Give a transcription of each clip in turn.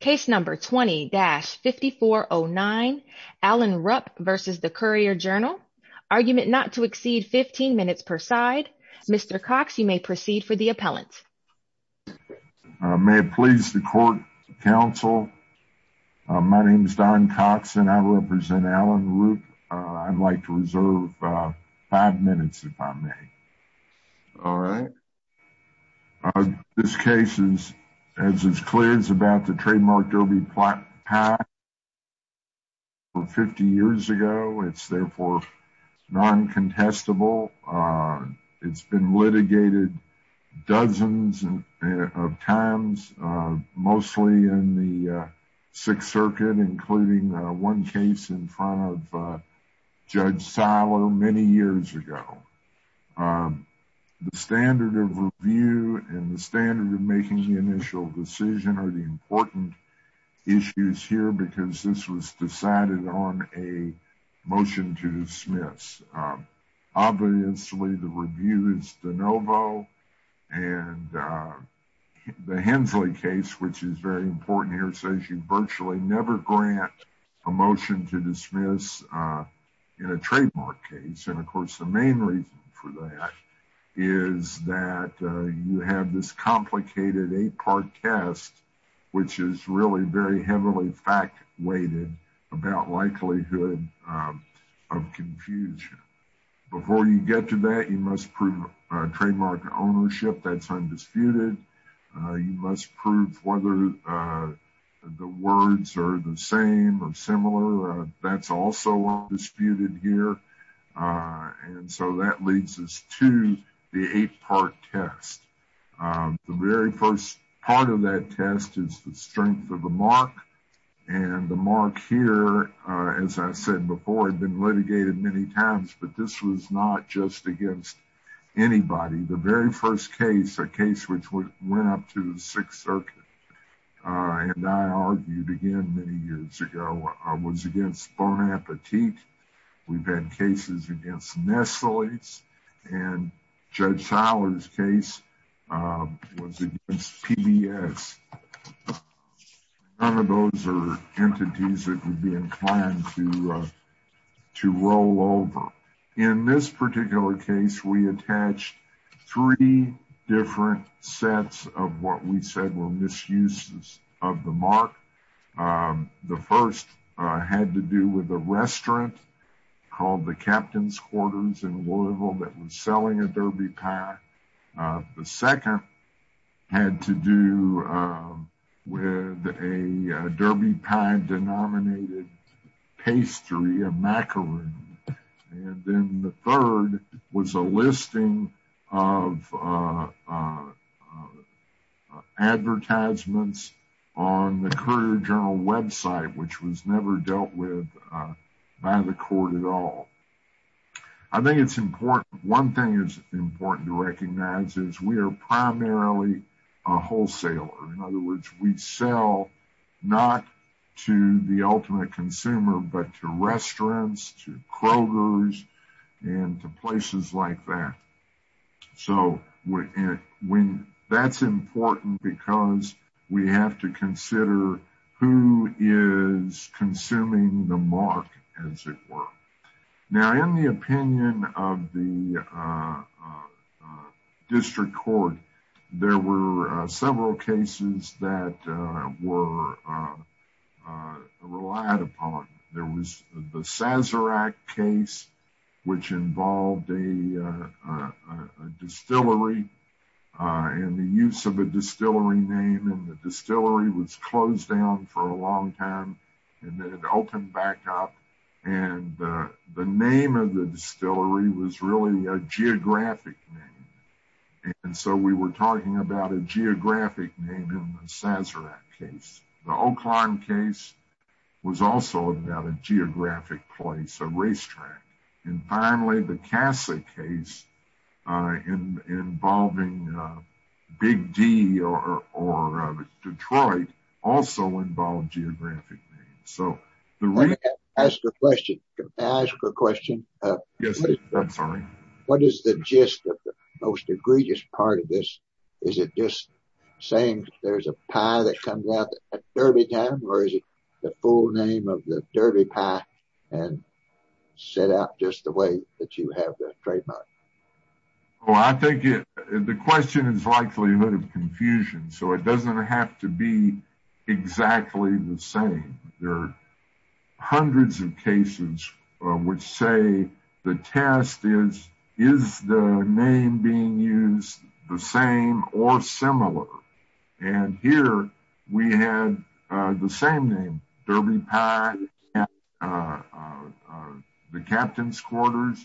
Case number 20-5409 Allen Rupp v. The Courier-Journal Argument not to exceed 15 minutes per side Mr. Cox you may proceed for the appellant May it please the court counsel my name is Don Cox and I represent Allen Rupp I'd like to reserve five minutes if I may all right This case is as is clear is about the trademark derby plot pack from 50 years ago it's therefore non-contestable it's been litigated dozens of times mostly in the sixth circuit including one case in front of Judge Siler many years ago The standard of review and the standard of making the initial decision are the important issues here because this was decided on a motion to dismiss obviously the review is de novo and the Hensley case which is very important here says you virtually never grant a motion to dismiss in a trademark case and of course the main reason for that is that you have this complicated eight-part test which is really very heavily fact-weighted about likelihood of confusion before you get to that you must prove a trademark ownership that's undisputed you must prove whether the words are the same or similar that's also undisputed here and so that leads us to the eight-part test the very first part of that test is the strength of the mark and the mark here as I said before had been litigated many times but this was not just against anybody the very first case a case which went up to the sixth circuit and I argued again many years ago I was against Bon Appetit we've had cases against Nestle and Judge Siler's case was against PBS none of those are entities that would be inclined to roll over in this particular case we attached three different sets of what we said were misuses of the mark the first had to do with a restaurant called the Captain's Quarters in Louisville that was selling a Derby pie the second had to do with a Derby pie denominated pastry a macaroon and then the third was a listing of advertisements on the Courier Journal website which was never dealt with by the court at all I think it's important one thing is important to recognize is we are primarily a wholesaler in other words we sell not to the ultimate consumer but to restaurants to Kroger's and to places like that so when that's important because we have to consider who is consuming the mark as it were now in the opinion of the district court there were several cases that were relied upon there was the Sazerac case which involved a distillery and the use of a distillery name and the distillery was closed down for a long time and then it opened back up and the name of the distillery was really a geographic name and so we were talking about a geographic name in the Sazerac case the Oklahoma case was also about a geographic place a racetrack and finally the Cassie case in involving Big D or Detroit also involved geographic names so the right ask a question what is the gist of the most egregious part of this is it just saying there's a pie that comes out at Derby time or is it the full name of the Derby pie and set out just the way that you have the trademark well I think it the question is likelihood of confusion so it doesn't have to be exactly the same there are hundreds of cases which say the test is is the name being used the same or similar and here we had the same name Derby pie the captain's quarters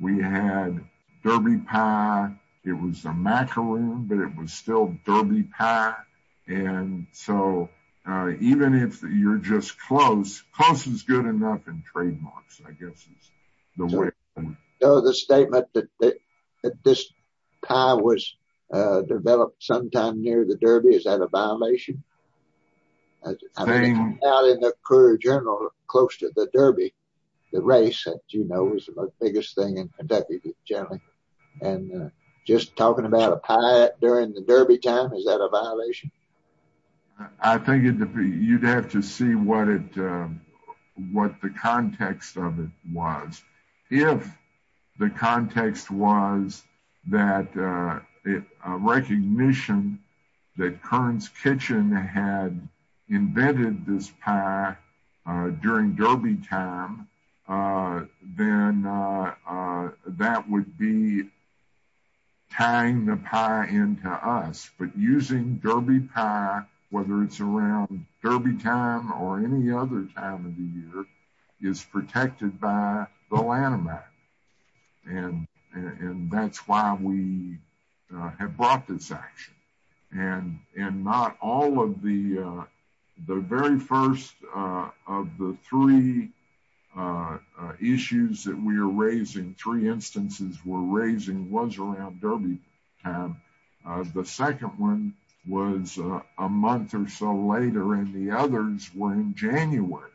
we had Derby pie it was a macaroon but it was still Derby pie and so even if you're just close close is good enough and trademarks I guess is the way so the statement that this pie was developed sometime near the Derby is that a violation out in the career journal close to the Derby the race that you know was the most biggest thing in Kentucky generally and just talking about a pie during the Derby time is that a violation I think it'd be you'd have to see what it what the context of it was if the context was that it recognition that Kern's kitchen had invented this pie during Derby time then that would be tying the pie into us but using Derby pie whether it's around Derby time or any other time of the year is protected by the Lanham Act and and that's why we have brought this action and and not all of the the very first of the three issues that we are raising three instances were raising was around Derby time the second one was a month or so later and the others were in January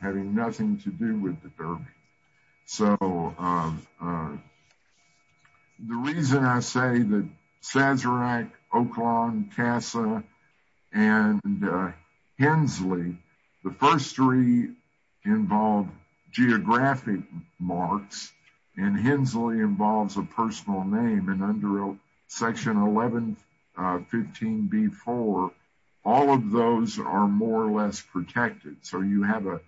having nothing to do with the Derby so uh the reason I say that Sazerac, Oaklawn, Tassa and Hensley the first three involve geographic marks and Hensley involves a personal name and under section 1115b4 all of those are more or less protected so you have a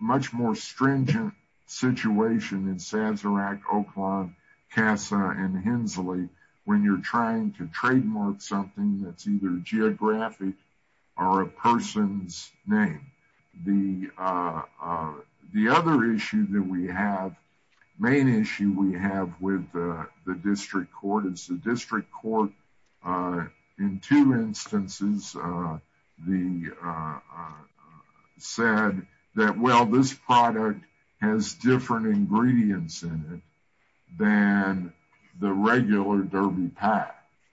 much more stringent situation in Sazerac, Oaklawn, Tassa and Hensley when you're trying to trademark something that's either geographic or a person's name the uh the other issue that we have main issue we have with the the uh said that well this product has different ingredients in it than the regular Derby pie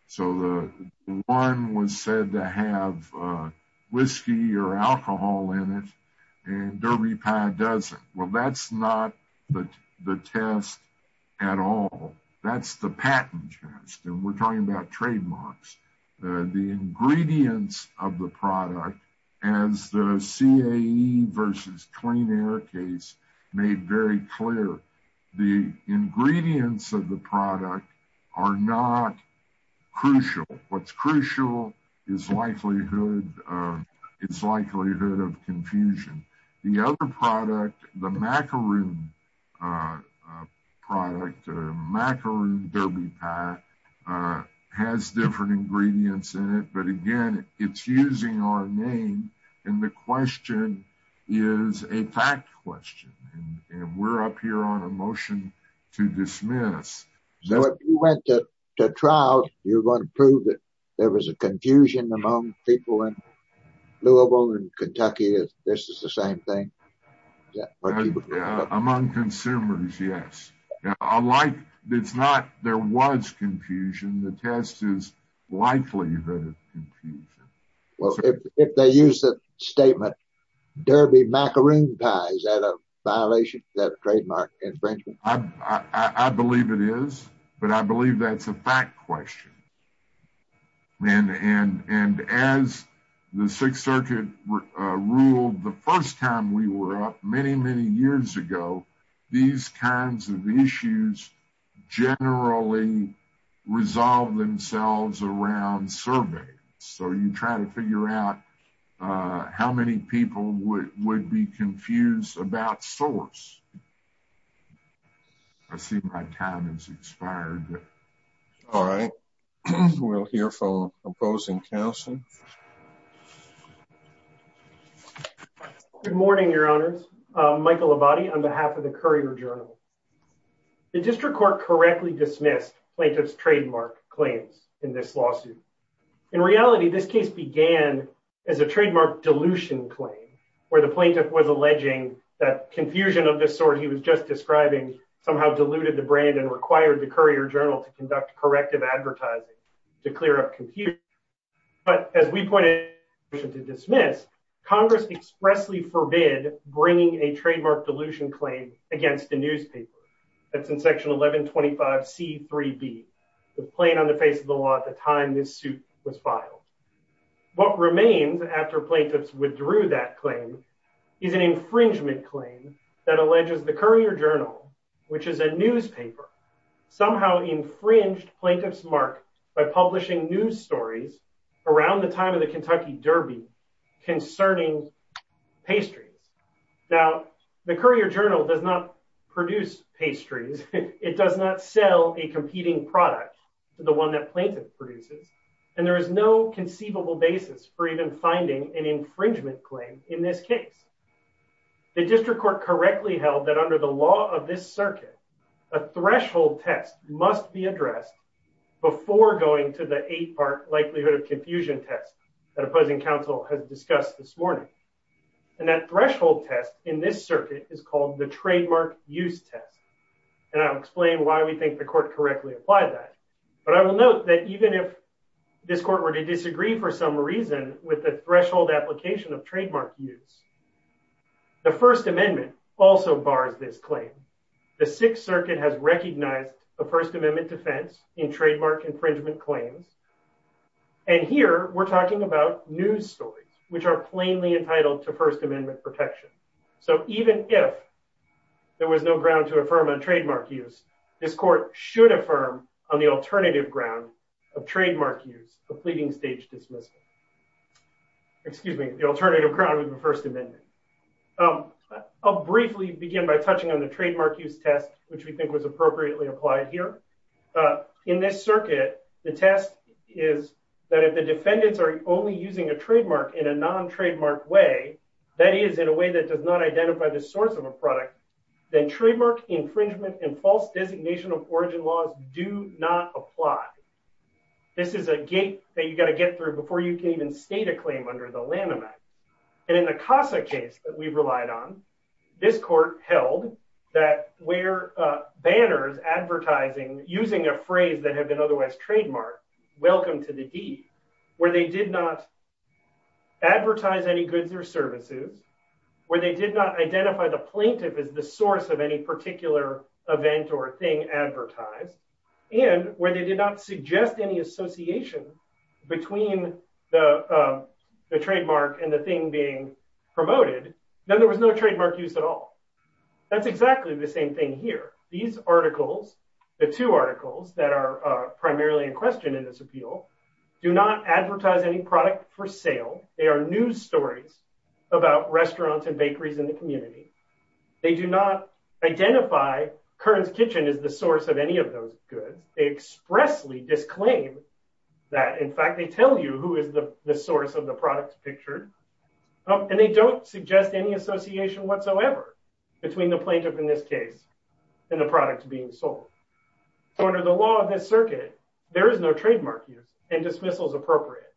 so the one was said to have whiskey or alcohol in it and Derby pie doesn't well that's not the the test at all that's the patent test and we're talking about trademarks the ingredients of the product as the CAE versus Clean Air case made very clear the ingredients of the product are not crucial what's crucial is likelihood uh it's likelihood of confusion the other product the macaroon uh product macaroon Derby pie uh has different ingredients in it but again it's using our name and the question is a fact question and we're up here on a motion to dismiss so if you went to trial you're going to prove that there was a confusion among people in Louisville and Kentucky is this is the same thing yeah among consumers yes unlike it's not there was confusion the test is likely the confusion well if they use the statement Derby macaroon pie is that a violation that trademark infringement I believe it is but believe that's a fact question and and and as the sixth circuit ruled the first time we were up many many years ago these kinds of issues generally resolve themselves around surveys so you try to figure out uh how many people would would be confused about source I see my time has expired all right we'll hear from opposing counsel good morning your honors Michael Abadie on behalf of the Courier Journal the district court correctly dismissed plaintiff's trademark claims in this lawsuit in reality this case began as a trademark dilution claim where the plaintiff was alleging that confusion of this sort he was just describing somehow diluted the brand and required the Courier Journal to conduct corrective advertising to clear up confusion but as we pointed to dismiss Congress expressly forbid bringing a trademark dilution claim against the newspaper that's in section 1125 c 3b the plain on the face of the law at the time this suit was filed what remains after plaintiffs withdrew that claim is an infringement claim that alleges the Courier Journal which is a newspaper somehow infringed plaintiff's mark by publishing news stories around the time of the Kentucky Derby concerning pastries now the Courier Journal does not produce pastries it does not sell a competing product the one that plaintiff produces and there is no conceivable basis for even finding an infringement claim in this case the district court correctly held that under the law of this circuit a threshold test must be addressed before going to the eight part likelihood of confusion test that opposing counsel has discussed this morning and that threshold test in this circuit is called the trademark use test and I'll explain why we think the court correctly applied that but I will note that even if this court were to disagree for some reason with the threshold application of trademark use the first amendment also bars this claim the sixth circuit has recognized the first amendment defense in trademark infringement claims and here we're talking about news stories which are plainly entitled to first amendment protection so even if there was no ground to affirm a trademark use this court should affirm on the alternative ground of trademark use a pleading stage dismissal excuse me the alternative ground with the first amendment I'll briefly begin by touching on the trademark use test which we think was appropriately applied here in this circuit the test is that if the defendants are only using a trademark in a non-trademark way that is in a way that does not identify the source of a product then trademark infringement and false designation of origin laws do not apply this is a gate that you got to get through before you can even state a claim under the laminate and in the casa case that we've relied on this court held that where uh banners advertising using a phrase that had been otherwise trademarked welcome to the d where they did not advertise any goods or services where they did not identify the plaintiff as the source of any particular event or thing advertised and where they did not suggest any association between the the trademark and the thing being promoted then there was no trademark use at all that's exactly the same thing here these articles the two articles that are uh primarily in question in this appeal do not advertise any product for sale they are news stories about restaurants and bakeries in the community they do not identify kern's kitchen is the source of any of those goods they expressly disclaim that in fact they tell you who is the the source of the product pictured and they don't suggest any association whatsoever between the plaintiff in this case and the product being sold under the law of this circuit there is no trademark use and dismissals appropriate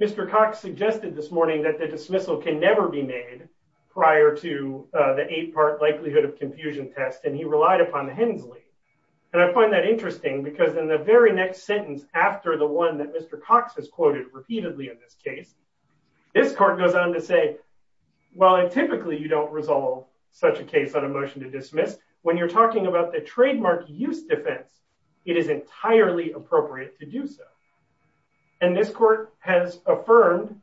mr cox suggested this morning that the dismissal can never be made prior to the eight-part likelihood of confusion test and he relied upon the hensley and i find that interesting because in the very next sentence after the one that mr cox has quoted repeatedly in this case this court goes on to say well and typically you don't resolve such a case on a motion to dismiss when you're talking about the trademark use defense it is entirely appropriate to do so and this court has affirmed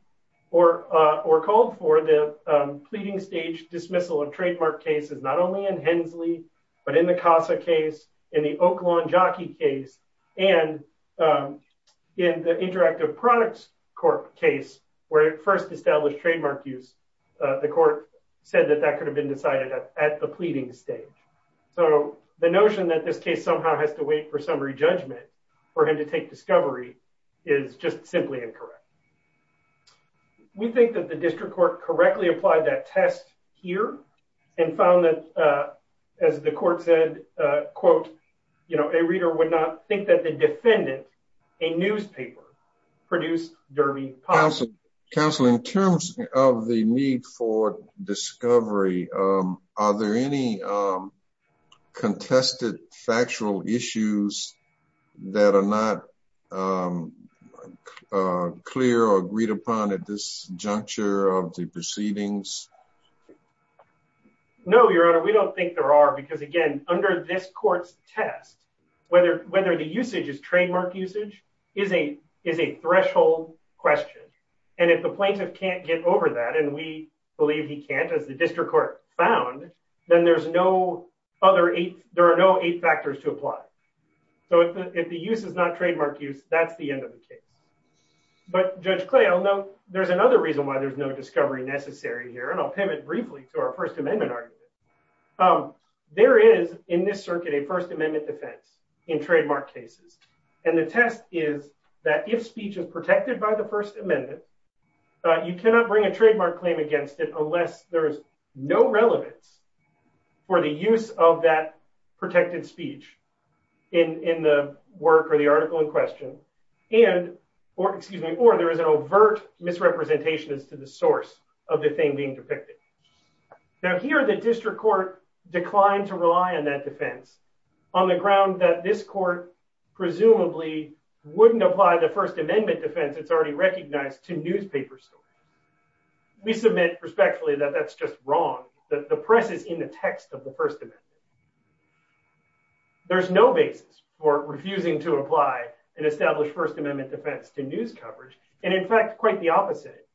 or uh or called for the um pleading stage dismissal of trademark cases not only in hensley but in the casa case in the oaklawn jockey case and um in the interactive products court case where it first established trademark use uh the court said that that could have been decided at the pleading stage so the notion that this case somehow has to wait for summary judgment for him to take discovery is just simply incorrect we think that the district court correctly applied that test here and found that uh as the court said uh quote you know a reader would not think that the defendant a newspaper produced derby council in terms of the need for discovery um are there any um contested factual issues that are not um clear or agreed upon at this juncture of the proceedings no your honor we don't think there are because again under this court's test whether whether the usage is trademark usage is a is a threshold question and if the plaintiff can't get over that and we believe he can't as the district court found then there's no other eight there are no factors to apply so if the use is not trademark use that's the end of the case but judge clay i'll note there's another reason why there's no discovery necessary here and i'll pivot briefly to our first amendment argument um there is in this circuit a first amendment defense in trademark cases and the test is that if speech is protected by the first amendment you cannot bring a trademark claim against it unless there is no relevance for the use of that protected speech in in the work or the article in question and or excuse me or there is an overt misrepresentation as to the source of the thing being depicted now here the district court declined to rely on that defense on the ground that this court presumably wouldn't apply the first amendment defense it's already recognized to newspaper story we submit respectfully that that's just wrong that the press is in the text of the first amendment there's no basis for refusing to apply an established first amendment defense to news coverage and in fact quite the opposite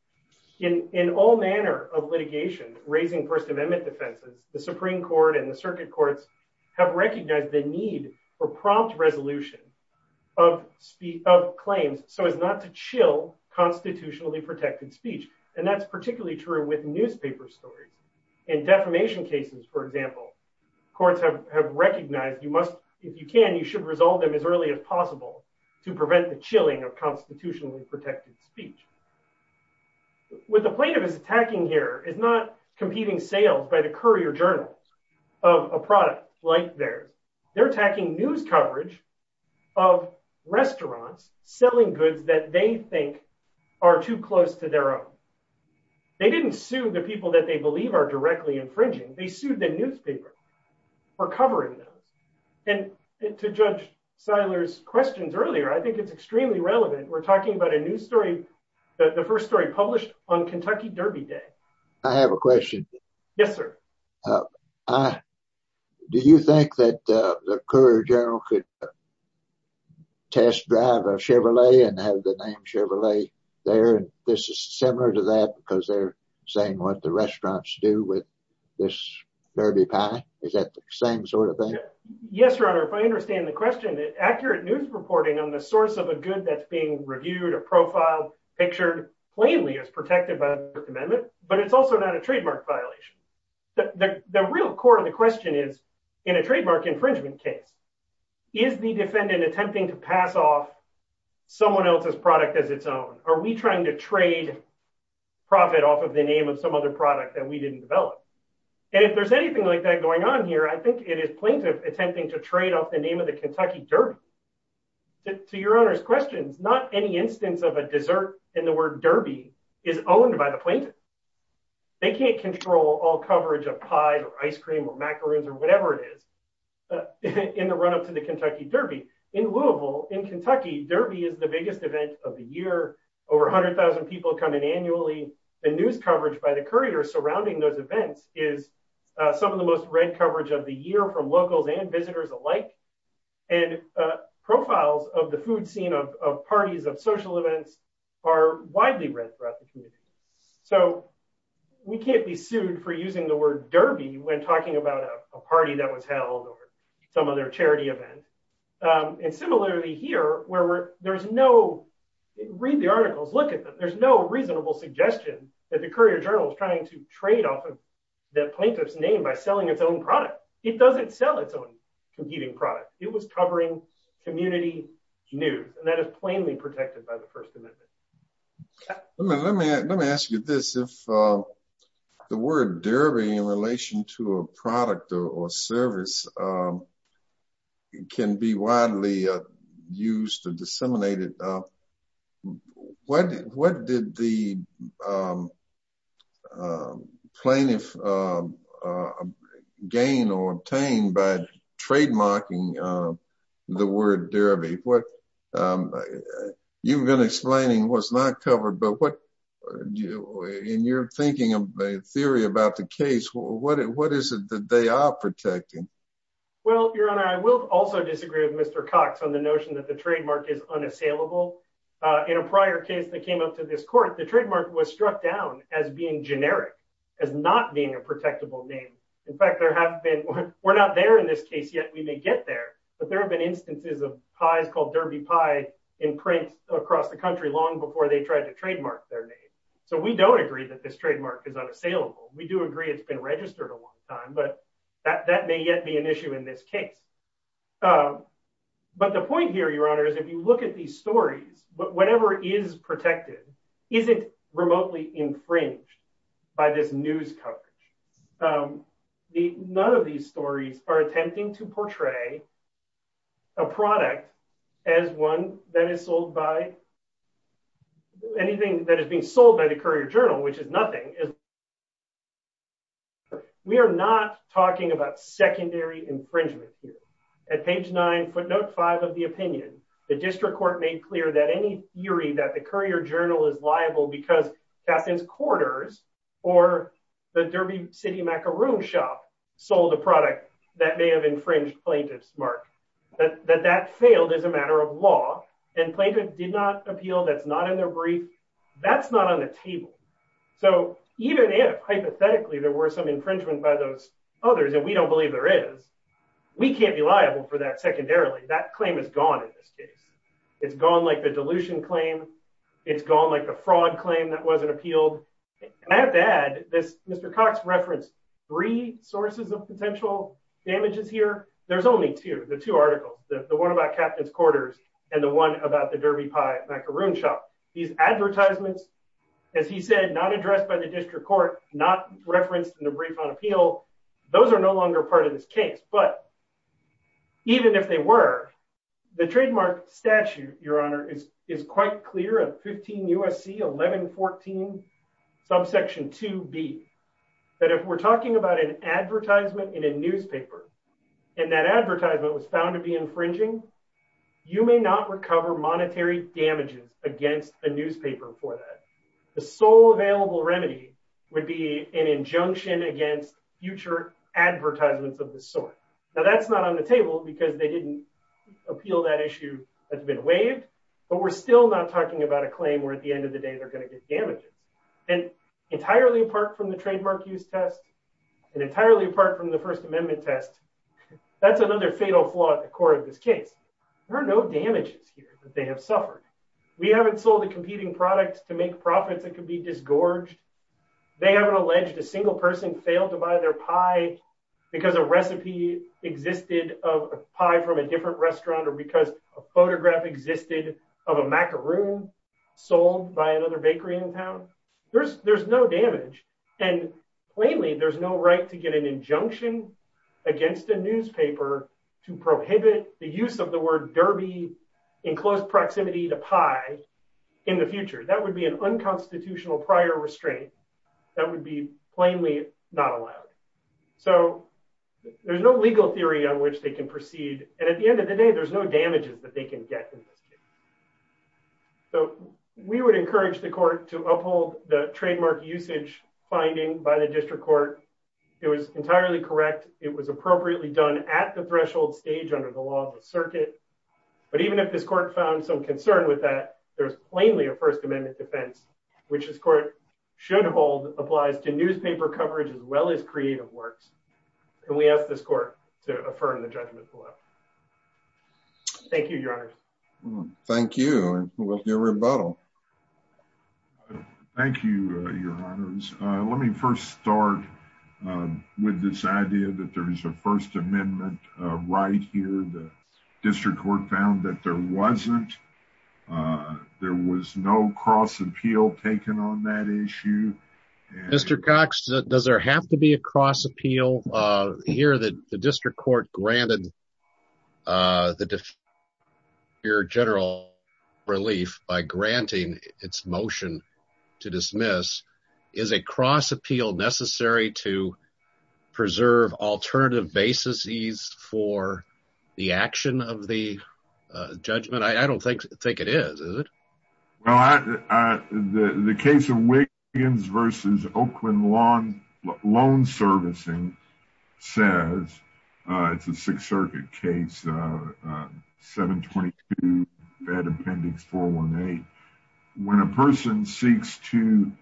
in in all manner of litigation raising first amendment defenses the supreme court and the circuit courts have recognized the need for prompt resolution of speed of claims so as not to chill constitutionally protected speech and that's particularly true with newspaper stories in defamation cases for example courts have have recognized you must if you can you should resolve them as early as possible to prevent the chilling of constitutionally protected speech what the plaintiff is attacking here is not competing sales by the courier journals of a product like theirs they're attacking news coverage of restaurants selling goods that they think are too close to their own they didn't sue the people that they believe are directly infringing they sued the newspaper for covering them and to judge seiler's questions earlier i think it's extremely relevant we're talking about a news story the first story published on kentucky derby day i have a question yes sir uh i do you think that uh the courier general could test drive a chevrolet and have the name chevrolet there and this is similar to that because they're saying what the restaurants do with this derby pie is that the same sort of thing yes your honor if i understand the question the accurate news reporting on the source of a good that's being reviewed or profiled pictured plainly as protected by the amendment but it's also not a trademark violation the the real core of the question is in a trademark infringement case is the defendant attempting to pass off someone else's product as its own are we trying to trade profit off of the name of some other product that we didn't develop and if there's anything like that going on here i think it is plaintiff attempting to trade off the name of the kentucky derby to your honor's questions not any instance of a dessert in the word derby is owned by the plaintiff they can't control all coverage of pies or ice cream or macaroons or whatever it is in the run-up to the kentucky derby in louisville in kentucky derby is the biggest event of the year over 100,000 people come in annually the news coverage by the courier surrounding those events is some of the most red coverage of the year from locals and visitors alike and profiles of the food scene of parties of social events are widely read throughout the community so we can't be sued for using the word derby when talking about a party that was held or some other charity event and similarly here where there's no read the articles look at them there's no reasonable suggestion that the courier journal is trying to trade off of that plaintiff's name by selling its own product it doesn't sell its own competing product it was covering community news and that is plainly protected by the first amendment let me let me ask you this if uh the word derby in relation to a um plaintiff uh uh gain or obtain by trademarking uh the word derby what um you've been explaining what's not covered but what do you and you're thinking of a theory about the case what what is it that they are protecting well your honor i will also disagree with mr cox on the notion that the trademark is unassailable uh in a prior case that came up to this court the trademark was struck down as being generic as not being a protectable name in fact there have been we're not there in this case yet we may get there but there have been instances of pies called derby pie in print across the country long before they tried to trademark their name so we don't agree that this trademark is unassailable we do agree it's been registered a long time but that that may yet be an issue in this case uh but the point here your honor is if you look at these stories but is protected isn't remotely infringed by this news coverage um the none of these stories are attempting to portray a product as one that is sold by anything that is being sold by the courier journal which is nothing is we are not talking about secondary infringement here at page nine footnote five of the opinion the district court made clear that any theory that the courier journal is liable because castings quarters or the derby city macaroon shop sold a product that may have infringed plaintiffs mark that that failed as a matter of law and plaintiff did not appeal that's not in their brief that's not on the table so even if hypothetically there were some infringement by others and we don't believe there is we can't be liable for that secondarily that claim is gone in this case it's gone like the dilution claim it's gone like the fraud claim that wasn't appealed and i have to add this mr cox referenced three sources of potential damages here there's only two the two articles the one about captains quarters and the one about the derby pie macaroon shop these advertisements as he said not addressed by the district court not referenced in the brief on appeal those are no longer part of this case but even if they were the trademark statute your honor is is quite clear at 15 usc 11 14 subsection 2b that if we're talking about an advertisement in a newspaper and that advertisement was found to be infringing you may not recover monetary damages against the newspaper for that the sole available remedy would be an injunction against future advertisements of this sort now that's not on the table because they didn't appeal that issue that's been waived but we're still not talking about a claim where at the end of the day they're going to get damaged and entirely apart from the trademark use test and entirely apart from the first amendment test that's another fatal flaw at the core of this case there are no damages here they have suffered we haven't sold a competing product to make profits that could be disgorged they haven't alleged a single person failed to buy their pie because a recipe existed of a pie from a different restaurant or because a photograph existed of a macaroon sold by another bakery in town there's there's no damage and plainly there's no right to get an injunction against a newspaper to prohibit the use of the word derby in close proximity to pie in the future that would be an unconstitutional prior restraint that would be plainly not allowed so there's no legal theory on which they can proceed and at the end of the day there's no damages that they can get in this case so we would encourage the court to uphold the trademark usage finding by the district court it was entirely correct it was appropriately done at the threshold stage under the law of the circuit but even if this court found some concern with that there's plainly a first amendment defense which this court should hold applies to newspaper coverage as well as creative works and we ask this court to affirm the judgment below thank you your honor thank you with your rebuttal uh thank you uh your honors uh let me first start uh with this idea that there is a first amendment uh right here the district court found that there wasn't uh there was no cross appeal taken on that issue mr cox does there have to be a cross appeal uh here that the district court granted uh the def your general relief by granting its motion to dismiss is a cross appeal necessary to preserve alternative basis ease for the action of the judgment i don't think think it is is it well i uh the the case of wiggins versus oakland lawn loan servicing says uh it's a sixth circuit case uh 722 bed appendix 418 when a person seeks to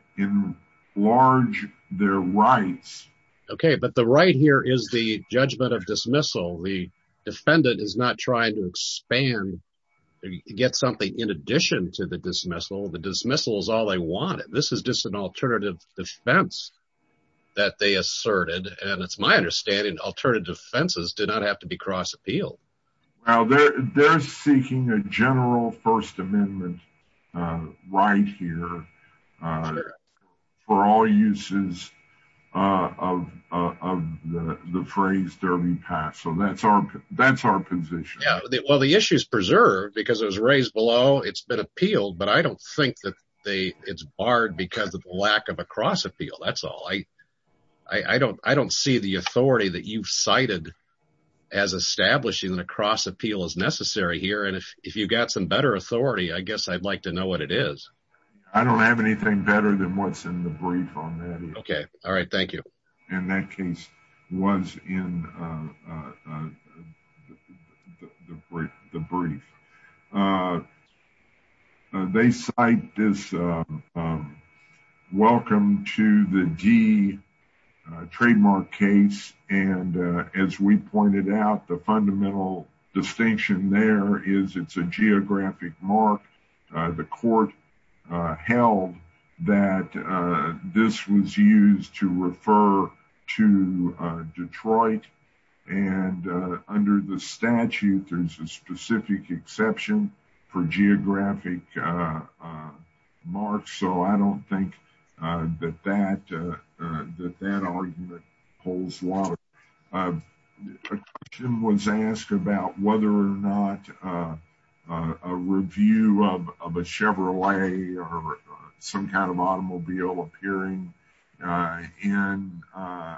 enlarge their rights okay but the right here is the judgment of dismissal the defendant is not trying to expand to get something in addition to the dismissal the dismissal is all they wanted this is just an alternative defense that they asserted and it's my understanding alternative defenses did not have to be cross appeal well they're they're seeking a general first amendment uh right here uh for all uses uh of of the the phrase derby pass so that's our that's our position yeah well the issue is preserved because it was raised below it's been appealed but i don't think that they it's barred because of the lack of a cross appeal that's all i i i don't i don't see the authority that you've cited as establishing an across appeal as necessary here and if if you got some better authority i guess i'd like to know what it is i don't have anything better than what's in the brief on that okay all right thank you and that case was in uh uh the brief the brief uh they cite this um welcome to the g trademark case and as we pointed out the fundamental distinction there is it's a geographic mark the court held that this was used to refer to detroit and under the statute there's a specific exception for geographic uh uh marks so i don't think uh that that uh that that argument pulls water uh kim was asked about whether or not uh a review of of a chevrolet or some kind of automobile appearing uh in uh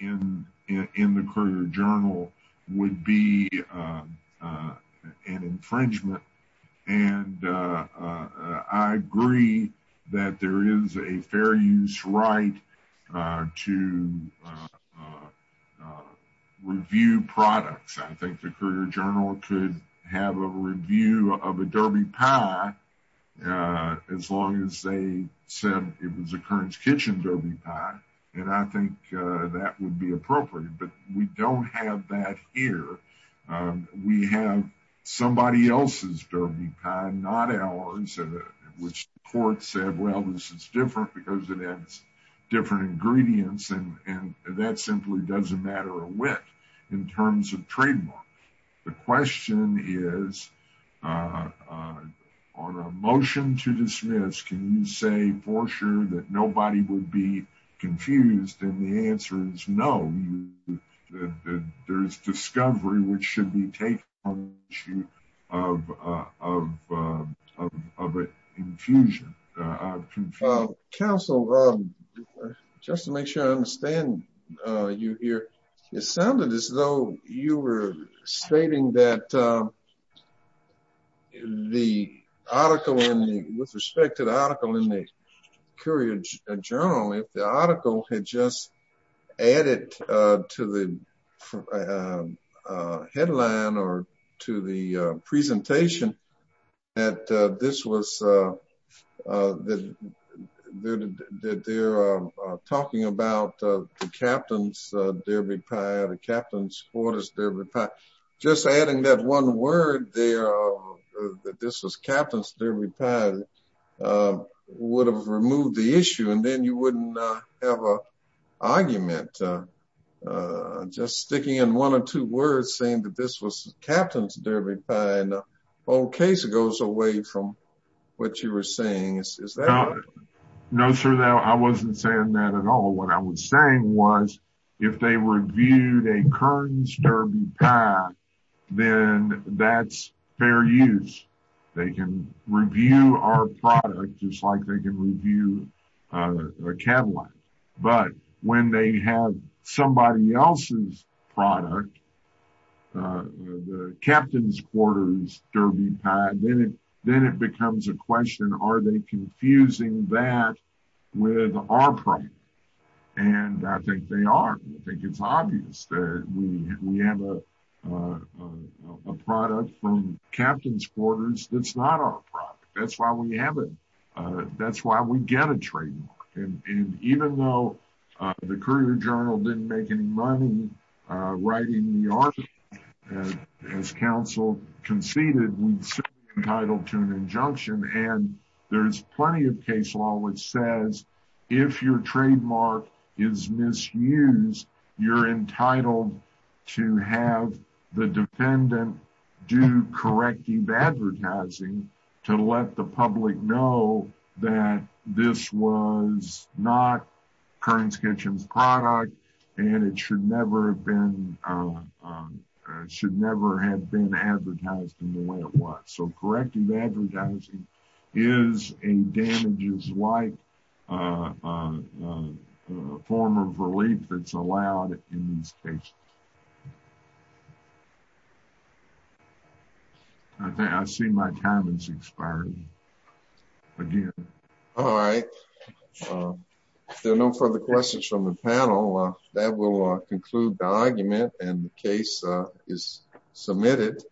in in the courier journal would be uh uh an infringement and uh uh i agree that there is a fair use right uh to uh uh review products i think the courier journal could have a review of a derby pie uh as long as they said it was a kerns kitchen derby pie and i think that would be appropriate but we don't have that here we have somebody else's derby pie not ours which court said well this is different because it has different ingredients and that simply doesn't matter a wit in terms of trademark the question is on a motion to dismiss can you say for sure that nobody would be confused and the answer is no there's discovery which should be taken on issue of uh of uh of a infusion uh council um just to make sure i understand uh you here it sounded as though you were stating that the article in the with respect to the article in the courier journal if the article had just added uh to the uh headline or to the uh presentation that uh this was uh uh that that they're uh talking about uh the captain's uh derby pie the captain's quarters derby just adding that one word there uh that this was captain's derby pad uh would have removed the uh just sticking in one or two words saying that this was captain's derby and old case goes away from what you were saying is that no sir no i wasn't saying that at all what i was saying was if they reviewed a kerns derby pie then that's fair use they can review our product just like they can review a catalog but when they have somebody else's product uh the captain's quarters derby pad then it then it becomes a question are they confusing that with our product and i think they are i think it's obvious that we we have a a product from captain's quarters that's not our that's why we have it uh that's why we get a trademark and even though the courier journal didn't make any money uh writing the article as council conceded we'd be entitled to an injunction and there's plenty of case law which says if your trademark is misused you're entitled to have the defendant do corrective advertising to let the public know that this was not kerns kitchen's product and it should never have been uh should never have been advertised in the way it was so corrective advertising is a damages-like uh uh form of relief that's allowed in these cases i think i see my time is expiring again all right if there are no further questions from the panel that will conclude the argument and the case is submitted